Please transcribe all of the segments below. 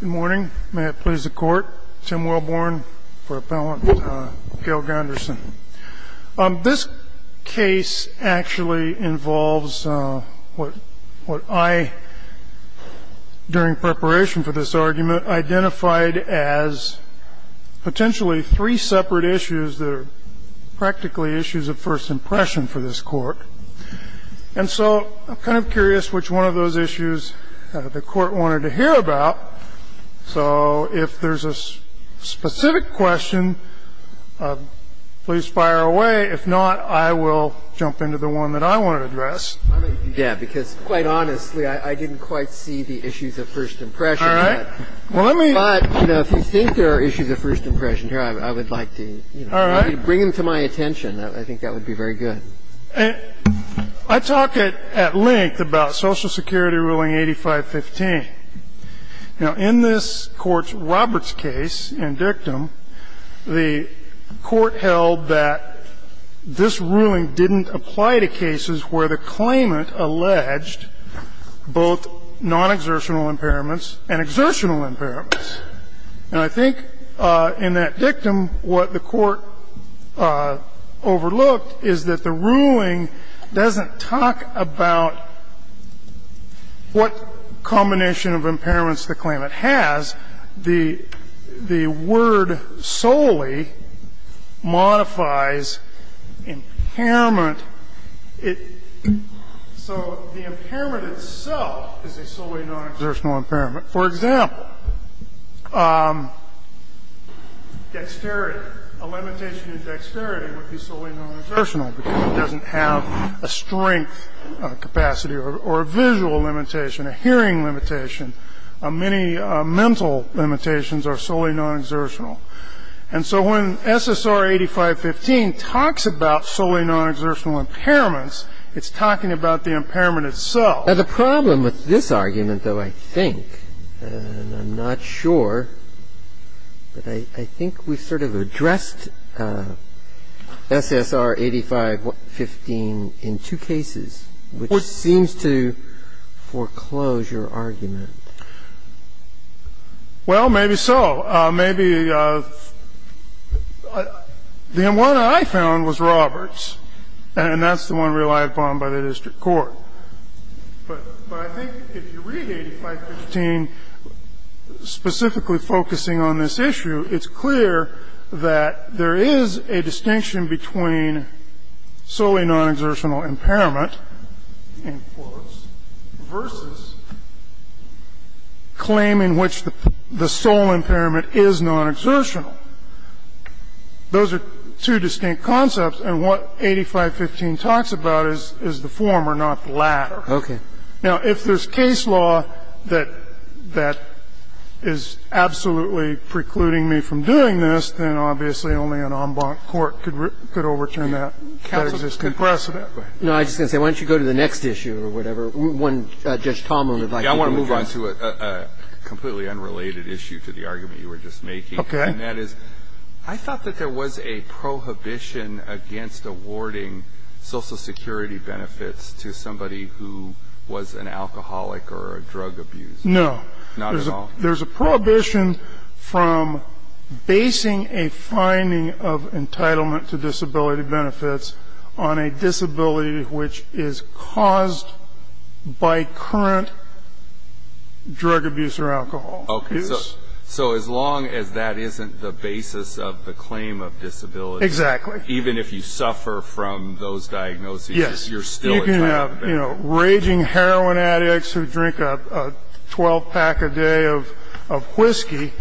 Good morning. May it please the court. Tim Wellborn for Appellant Gale Gunderson. This case actually involves what I, during preparation for this argument, identified as potentially three separate issues that are practically issues of first impression for this court. And so I'm kind of curious which one of those issues the court wanted to hear about. So if there's a specific question, please fire away. If not, I will jump into the one that I want to address. Breyer Yeah, because, quite honestly, I didn't quite see the issues of first impression. But, you know, if you think there are issues of first impression here, I would like to bring them to my attention. I think that would be very good. And I talk at length about Social Security ruling 8515. Now, in this Court's Roberts case in dictum, the Court held that this ruling didn't apply to cases where the claimant alleged both nonexertional impairments and exertional impairments. And I think in that dictum what the Court overlooked is that the ruling doesn't talk about what combination of impairments the claimant has. The word solely modifies impairment. So the impairment itself is a solely nonexertional impairment. For example, dexterity, a limitation in dexterity would be solely nonexertional because it doesn't have a strength capacity or a visual limitation, a hearing limitation. Many mental limitations are solely nonexertional. And so when SSR 8515 talks about solely nonexertional impairments, it's talking about the impairment itself. Now, the problem with this argument, though, I think, and I'm not sure, but I think we've sort of addressed SSR 8515 in two cases, which seems to foreclose your argument. Well, maybe so. Maybe the one I found was Roberts, and that's the one relied upon by the district court. But I think if you read 8515 specifically focusing on this issue, it's clear that there is a distinction between solely nonexertional impairment, in quotes, versus claim in which the sole impairment is nonexertional. Those are two distinct concepts. And what 8515 talks about is the former, not the latter. Okay. Now, if there's case law that is absolutely precluding me from doing this, then obviously only an en banc court could overturn that. No, I was just going to say, why don't you go to the next issue or whatever. Judge Talmadge would like to address that. I want to move on to a completely unrelated issue to the argument you were just making. Okay. And that is, I thought that there was a prohibition against awarding Social Security benefits to somebody who was an alcoholic or a drug abuser. No. Not at all. There's a prohibition from basing a finding of entitlement to disability benefits on a disability which is caused by current drug abuse or alcohol abuse. Okay. So as long as that isn't the basis of the claim of disability. Exactly. Even if you suffer from those diagnoses, you're still entitled to benefits. Yes. You can have raging heroin addicts who drink a 12-pack a day of whiskey,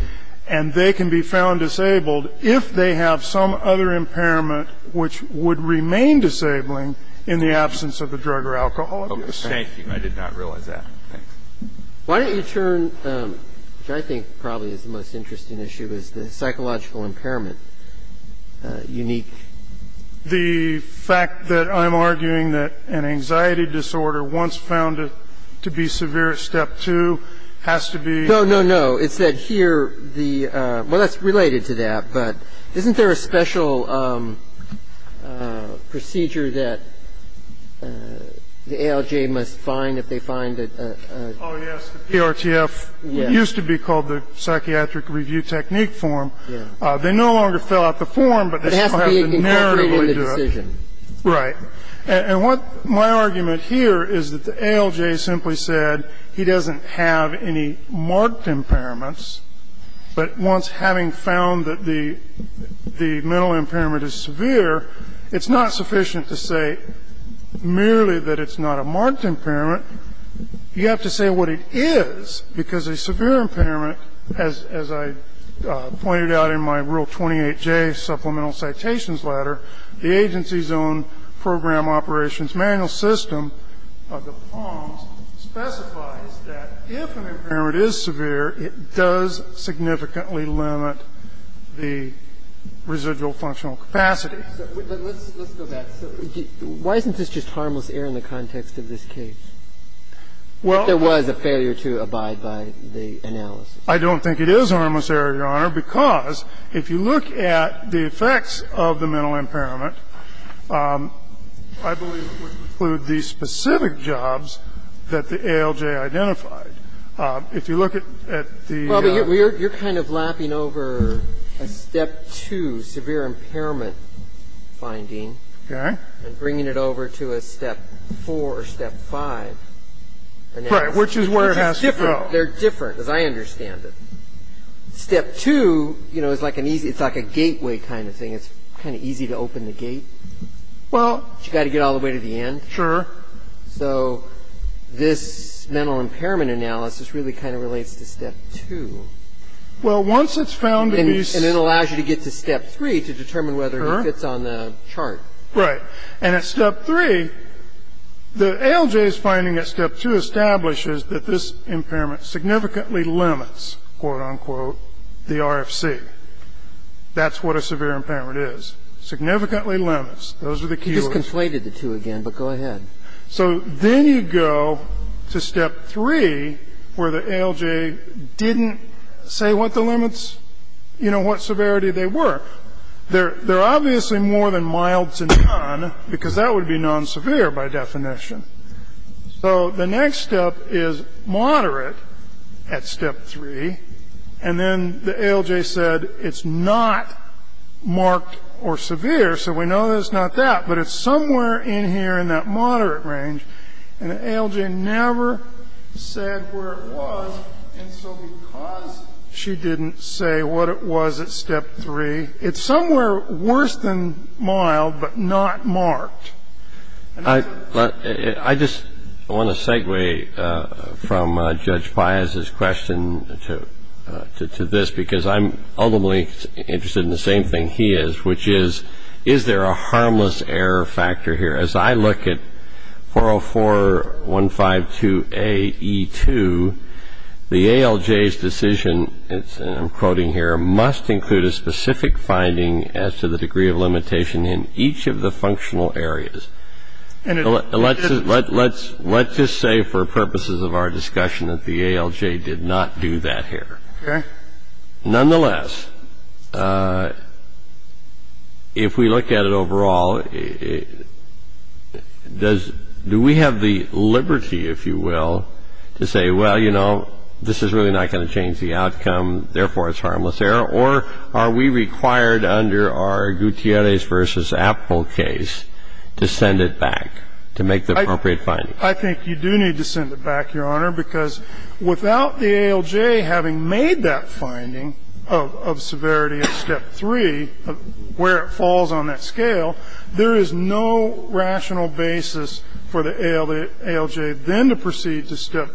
and they can be found disabled if they have some other impairment which would remain disabling in the absence of a drug or alcohol abuse. Thank you. I did not realize that. Thanks. Why don't you turn, which I think probably is the most interesting issue, is the psychological impairment unique? The fact that I'm arguing that an anxiety disorder once found to be severe, step two, has to be. No, no, no. It's that here the well, that's related to that, but isn't there a special procedure that the ALJ must find if they find a. Oh, yes. The PRTF, what used to be called the psychiatric review technique form. Yes. They no longer fill out the form, but they still have to narratively do it. It has to be incorporated in the decision. Right. And what my argument here is that the ALJ simply said he doesn't have any marked impairments, but once having found that the mental impairment is severe, it's not sufficient to say merely that it's not a marked impairment. You have to say what it is, because a severe impairment, as I pointed out in my rule 28J supplemental citations letter, the agency's own program operations manual system, the POMS, specifies that if an impairment is severe, it does significantly limit the residual functional capacity. But let's go back. Why isn't this just harmless error in the context of this case? Well, there was a failure to abide by the analysis. I don't think it is harmless error, Your Honor, because if you look at the effects of the mental impairment, I believe it would include the specific jobs that the ALJ identified. Now, I don't disagree. It's been treated. Well, but you're kind of lapping over a step 2 severe impairment finding and bringing it over to a step 4 or step 5. Right. Which is where it has to go. It's different. They're different as I understand it. Step 2 is, you know, it's like an easy – it's like a gateway kind of thing. It's kind of easy to open the gate, but you've got to get all the way to the end. Sure. So this mental impairment analysis really kind of relates to step 2. Well, once it's found to be – And it allows you to get to step 3 to determine whether it fits on the chart. Right. And at step 3, the ALJ's finding at step 2 establishes that this impairment significantly limits, quote, unquote, the RFC. That's what a severe impairment is. Significantly limits. Those are the keywords. You just conflated the two again, but go ahead. So then you go to step 3, where the ALJ didn't say what the limits, you know, what severity they were. They're obviously more than mild to non, because that would be non-severe by definition. So the next step is moderate at step 3, and then the ALJ said it's not marked or severe, so we know that it's not that. But it's somewhere in here in that moderate range, and the ALJ never said where it was, and so because she didn't say what it was at step 3, it's somewhere worse than mild, but not marked. I just want to segue from Judge Pius' question to this, because I'm ultimately interested in the same thing he is, which is, is there a harmless error factor here? As I look at 404.152A.E.2, the ALJ's decision, and I'm quoting here, must include a specific finding as to the degree of limitation in each of the functional areas. Let's just say for purposes of our discussion that the ALJ did not do that here. Nonetheless, if we look at it overall, do we have the liberty, if you will, to say, well, you know, this is really not going to change the outcome, therefore it's harmless error, or are we required under our Gutierrez v. Appel case to send it back to make the appropriate finding? I think you do need to send it back, Your Honor, because without the ALJ having made that finding of severity at step 3, where it falls on that scale, there is no rational basis for the ALJ then to proceed to step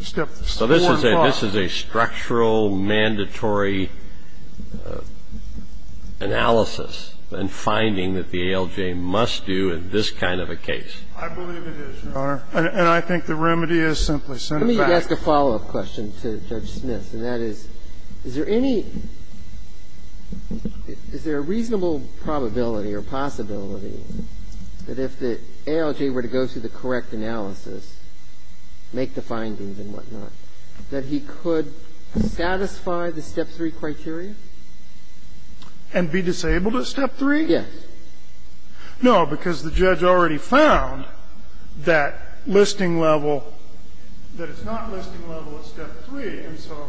4 and 5. So this is a structural, mandatory analysis and finding that the ALJ must do in this kind of a case. I believe it is, Your Honor, and I think the remedy is simply send it back. Let me ask a follow-up question to Judge Smith, and that is, is there any – is there a reasonable probability or possibility that if the ALJ were to go through the correct analysis, make the findings and whatnot, that he could satisfy the step 3 criteria? And be disabled at step 3? Yes. No, because the judge already found that listing level – that it's not listing level at step 3, and so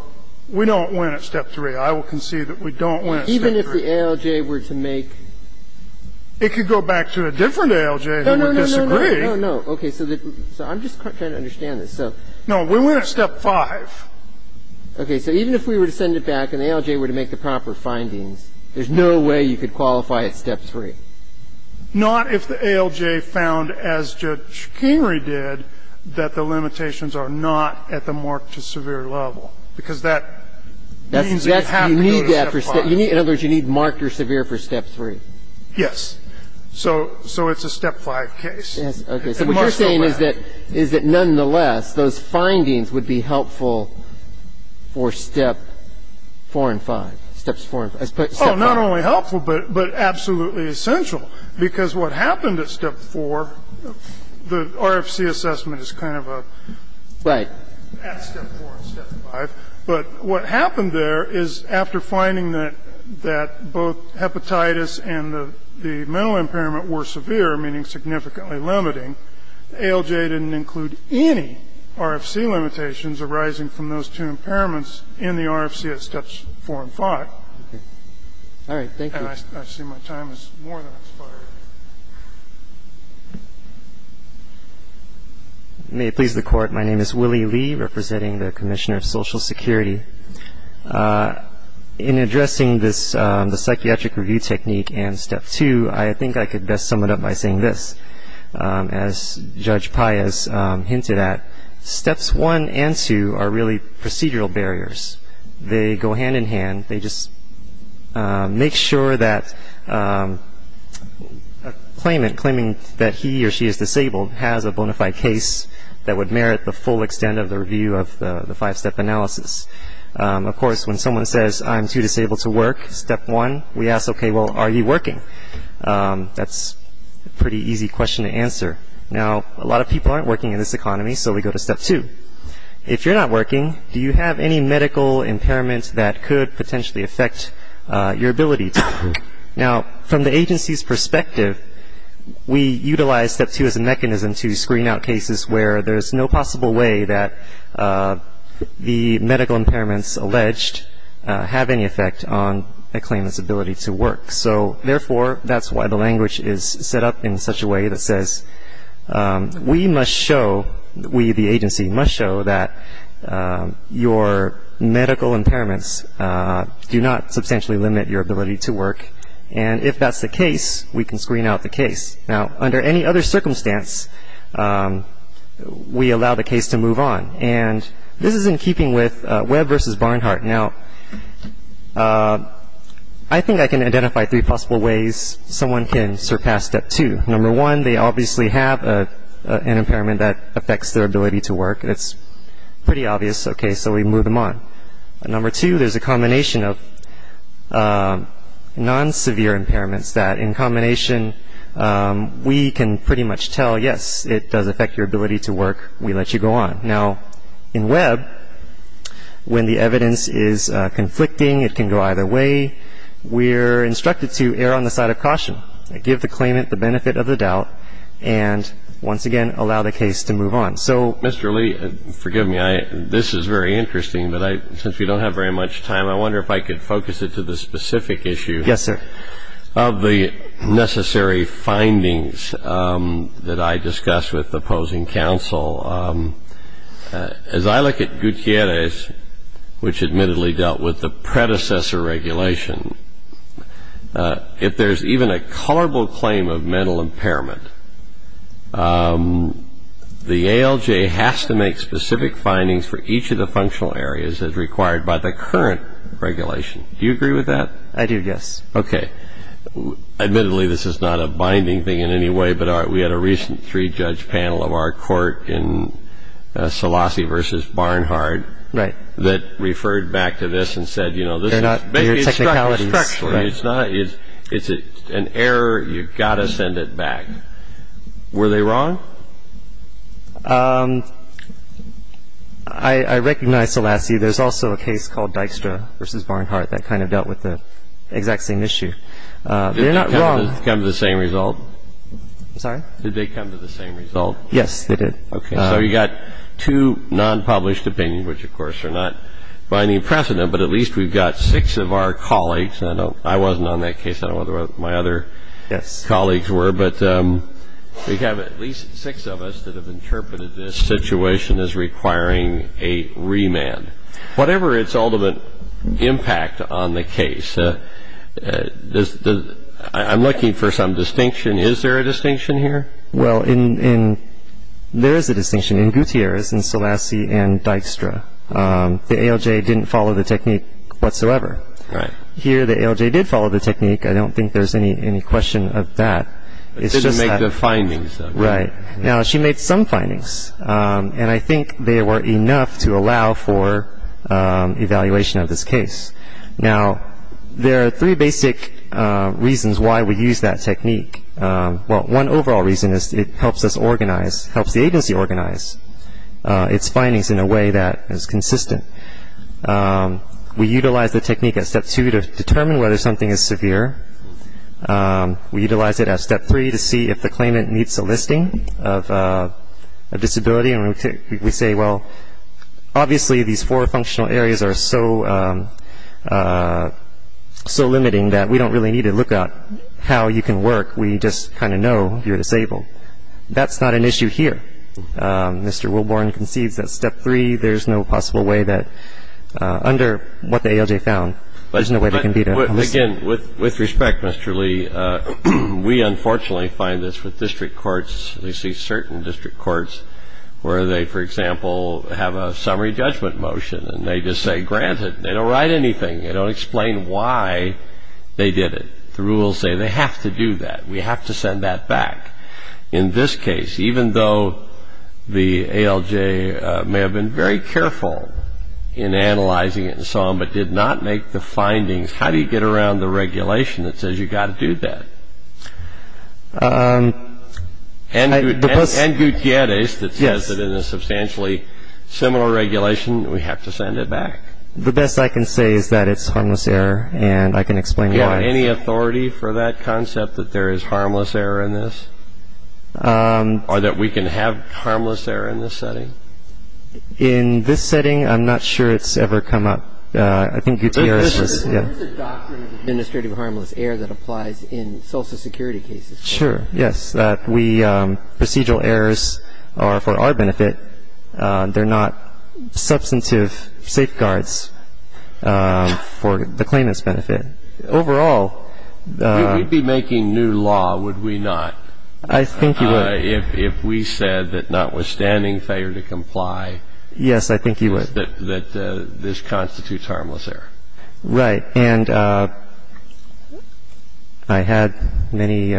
we don't win at step 3. I will concede that we don't win at step 3. Even if the ALJ were to make – No, no, no. Okay, so I'm just trying to understand this. No, we win at step 5. Okay, so even if we were to send it back and the ALJ were to make the proper findings, there's no way you could qualify at step 3? Not if the ALJ found, as Judge Kingery did, that the limitations are not at the marked to severe level, because that means that you have to go to step 5. In other words, you need marked or severe for step 3? Yes. So it's a step 5 case. Okay, so what you're saying is that nonetheless, those findings would be helpful for step 4 and 5. Steps 4 and 5. Oh, not only helpful, but absolutely essential, because what happened at step 4, the RFC assessment is kind of a – Right. At step 4 and step 5, but what happened there is after finding that both hepatitis and the mental impairment were severe, meaning significantly limiting, ALJ didn't include any RFC limitations arising from those two impairments in the RFC at steps 4 and 5. All right. Thank you. And I see my time has more than expired. May it please the Court. My name is Willie Lee, representing the Commissioner of Social Security. In addressing this – the psychiatric review technique and step 2, I think I could best sum it up by saying this. As Judge Paez hinted at, steps 1 and 2 are really procedural barriers. They go hand in hand. They just make sure that a claimant, claiming that he or she is disabled, has a bona fide case that would merit the full extent of the review of the five-step analysis. Of course, when someone says, I'm too disabled to work, step 1, we ask, okay, well, are you working? That's a pretty easy question to answer. Now, a lot of people aren't working in this economy, so we go to step 2. If you're not working, do you have any medical impairment that could potentially affect your ability to work? Now, from the agency's perspective, we utilize step 2 as a mechanism to screen out cases where there's no possible way that the medical impairments alleged have any effect on a claimant's ability to work. So, therefore, that's why the language is set up in such a way that says, we must show – we, the agency, must show that your medical impairments do not substantially limit your ability to work. And if that's the case, we can screen out the case. Now, under any other circumstance, we allow the case to move on. And this is in keeping with Webb versus Barnhart. Now, I think I can identify three possible ways someone can surpass step 2. Number 1, they obviously have an impairment that affects their ability to work. It's pretty obvious, okay, so we move them on. Number 2, there's a combination of non-severe impairments that, in combination, we can pretty much tell, yes, it does affect your ability to work. We let you go on. Now, in Webb, when the evidence is conflicting, it can go either way. We're instructed to err on the side of caution, give the claimant the benefit of the doubt, and, once again, allow the case to move on. So, Mr. Lee, forgive me. This is very interesting, but since we don't have very much time, I wonder if I could focus it to the specific issue of the necessary findings that I discussed with opposing counsel. As I look at Gutierrez, which admittedly dealt with the predecessor regulation, if there's even a colorable claim of mental impairment, the ALJ has to make specific findings for each of the functional areas as required by the current regulation. Do you agree with that? I do, yes. Okay. Admittedly, this is not a binding thing in any way, but we had a recent three-judge panel of our court in Selassie v. Barnhardt that referred back to this and said, you know, they're not your technicalities. Maybe it's structural. It's not. It's an error. You've got to send it back. Were they wrong? I recognize Selassie. There's also a case called Dykstra v. Barnhardt that kind of dealt with the exact same issue. They're not wrong. Did they come to the same result? I'm sorry? Did they come to the same result? Yes, they did. Okay. So you've got two non-published opinions, which, of course, are not binding precedent, but at least we've got six of our colleagues. I wasn't on that case. I don't know whether my other colleagues were, but we have at least six of us that have interpreted this situation as requiring a remand. Whatever its ultimate impact on the case, I'm looking for some distinction. Is there a distinction here? Well, there is a distinction in Gutierrez and Selassie and Dykstra. The ALJ didn't follow the technique whatsoever. Right. Here, the ALJ did follow the technique. I don't think there's any question of that. It didn't make the findings, though. Right. Now, she made some findings, and I think they were enough to allow for evaluation of this case. Now, there are three basic reasons why we use that technique. Well, one overall reason is it helps us organize, helps the agency organize its findings in a way that is consistent. We utilize the technique at step two to determine whether something is severe. We utilize it at step three to see if the claimant meets a listing of disability. And we say, well, obviously these four functional areas are so limiting that we don't really need to look at how you can work. We just kind of know you're disabled. That's not an issue here. Mr. Wilborn concedes that step three, there's no possible way that, under what the ALJ found, there's no way they can beat a listing. But, again, with respect, Mr. Lee, we unfortunately find this with district courts. We see certain district courts where they, for example, have a summary judgment motion, and they just say, granted, they don't write anything. They don't explain why they did it. The rules say they have to do that. We have to send that back. In this case, even though the ALJ may have been very careful in analyzing it and so on, but did not make the findings, how do you get around the regulation that says you've got to do that? And Gutierrez that says that in a substantially similar regulation, we have to send it back. The best I can say is that it's harmless error, and I can explain why. Do you have any authority for that concept, that there is harmless error in this? Or that we can have harmless error in this setting? In this setting, I'm not sure it's ever come up. I think Gutierrez has. There's a doctrine of administrative harmless error that applies in Social Security cases. Sure, yes. Procedural errors are for our benefit. They're not substantive safeguards for the claimant's benefit. Overall... We'd be making new law, would we not? I think you would. If we said that notwithstanding failure to comply... Yes, I think you would. ...that this constitutes harmless error. Right. And I had many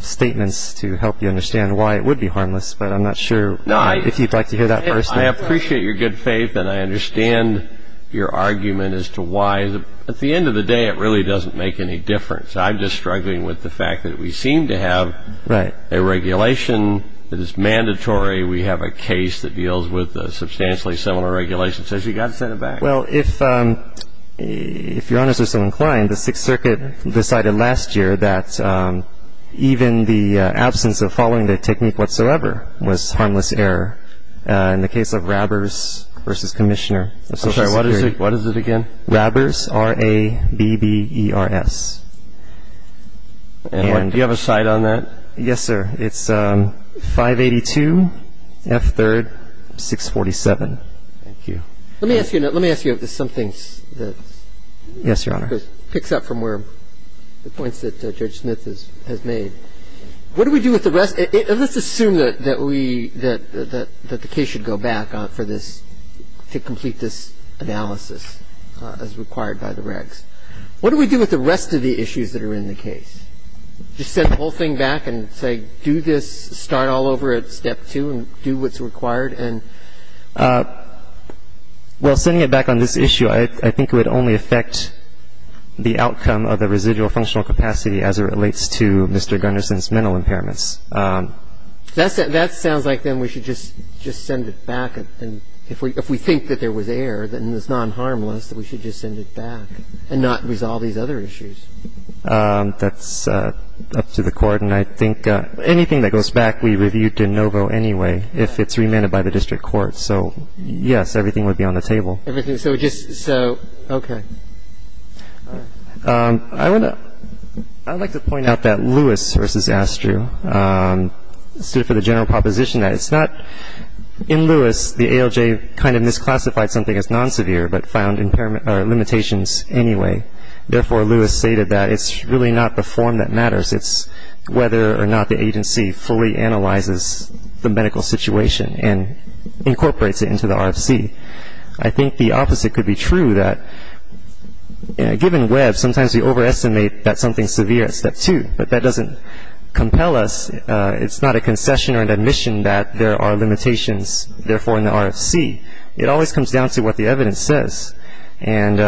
statements to help you understand why it would be harmless, but I'm not sure if you'd like to hear that first. I appreciate your good faith, and I understand your argument as to why. At the end of the day, it really doesn't make any difference. I'm just struggling with the fact that we seem to have a regulation that is mandatory. We have a case that deals with a substantially similar regulation. It says you've got to send it back. Well, if Your Honors are so inclined, the Sixth Circuit decided last year that even the absence of following the technique whatsoever was harmless error in the case of robbers versus commissioner. I'm sorry, what is it again? Robbers, R-A-B-B-E-R-S. And do you have a cite on that? Yes, sir. It's 582 F. 3rd, 647. Thank you. Let me ask you if there's something that... Yes, Your Honor. ...picks up from where the points that Judge Smith has made. What do we do with the rest? Let's assume that we, that the case should go back for this, to complete this analysis as required by the regs. What do we do with the rest of the issues that are in the case? Just send the whole thing back and say do this, start all over at step two and do what's required? Well, sending it back on this issue, I think it would only affect the outcome of the residual functional capacity as it relates to Mr. Gunnarsson's mental impairments. That sounds like then we should just send it back. And if we think that there was error, then it's non-harmless, that we should just send it back and not resolve these other issues. That's up to the court. And I think anything that goes back, we review de novo anyway, if it's remanded by the district court. So, yes, everything would be on the table. Everything. So just, so, okay. I would like to point out that Lewis versus Astru stood for the general proposition that it's not, in Lewis the ALJ kind of misclassified something as non-severe but found limitations anyway. Therefore, Lewis stated that it's really not the form that matters, it's whether or not the agency fully analyzes the medical situation and incorporates it into the RFC. I think the opposite could be true, that given Webb, sometimes we overestimate that something's severe at step two, but that doesn't compel us. It's not a concession or an admission that there are limitations, therefore, in the RFC. It always comes down to what the evidence says. And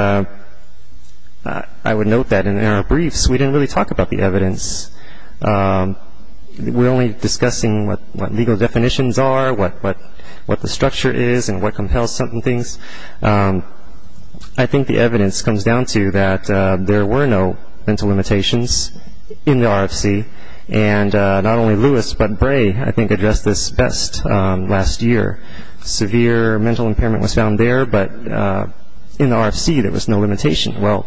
I would note that in our briefs, we didn't really talk about the evidence. We're only discussing what legal definitions are, what the structure is, and what compels certain things. I think the evidence comes down to that there were no mental limitations in the RFC, and not only Lewis but Bray, I think, addressed this best last year. Severe mental impairment was found there, but in the RFC there was no limitation. Well,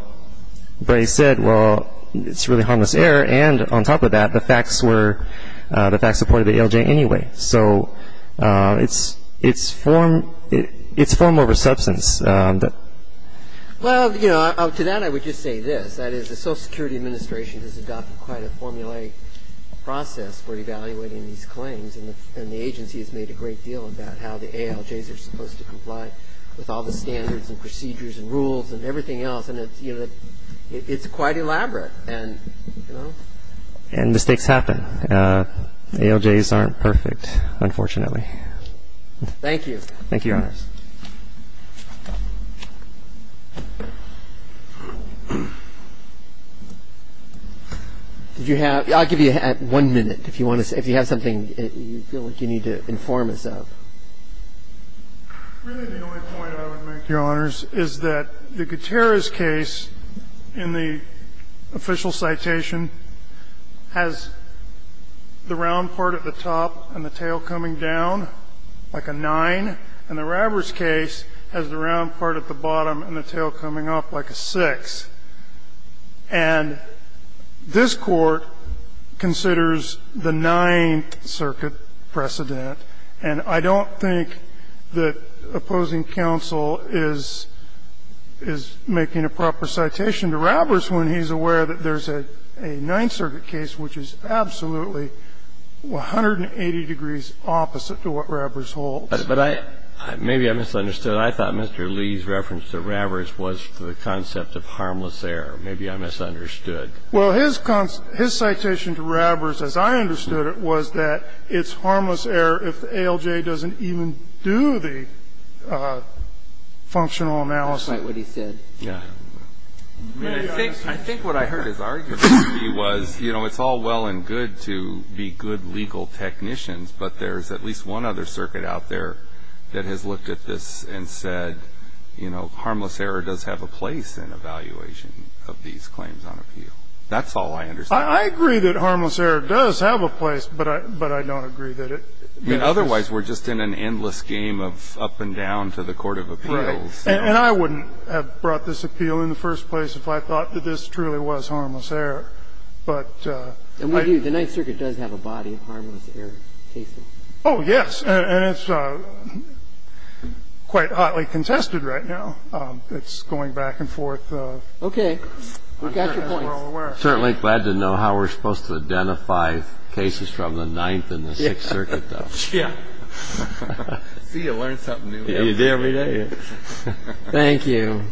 Bray said, well, it's really harmless error, and on top of that the facts were, the facts supported the ALJ anyway. So it's form over substance. Well, you know, to that I would just say this, that is the Social Security Administration has adopted quite a formulaic process for evaluating these claims, and the agency has made a great deal about how the ALJs are supposed to comply with all the standards and procedures and rules and everything else, and it's quite elaborate, and, you know. And mistakes happen. ALJs aren't perfect, unfortunately. Thank you. Thank you, Your Honors. I'll give you one minute. If you have something you feel like you need to inform us of. Really the only point I would make, Your Honors, is that the Gutierrez case in the official citation has the round part at the top and the tail coming down like a 9, and the Ravers case has the round part at the bottom and the tail coming up like a 6. And this Court considers the Ninth Circuit precedent, and I don't think that opposing counsel is making a proper citation to Ravers when he's aware that there's a Ninth Circuit case which is absolutely 180 degrees opposite to what Ravers holds. But I – maybe I misunderstood. I thought Mr. Lee's reference to Ravers was to the concept of harmless error. Maybe I misunderstood. Well, his citation to Ravers, as I understood it, was that it's harmless error if the functional analysis – That's not what he said. Yeah. I think what I heard his argument be was, you know, it's all well and good to be good legal technicians, but there's at least one other circuit out there that has looked at this and said, you know, harmless error does have a place in evaluation of these claims on appeal. That's all I understand. I agree that harmless error does have a place, but I don't agree that it – I mean, otherwise we're just in an endless game of up and down to the court of appeals. Right. And I wouldn't have brought this appeal in the first place if I thought that this truly was harmless error. But – And we do. The Ninth Circuit does have a body of harmless error cases. Oh, yes. And it's quite hotly contested right now. It's going back and forth. Okay. We've got your points. As we're all aware. Certainly glad to know how we're supposed to identify cases from the Ninth and the Sixth Circuit, though. Yeah. See, you learn something new every day. You do every day. Thank you.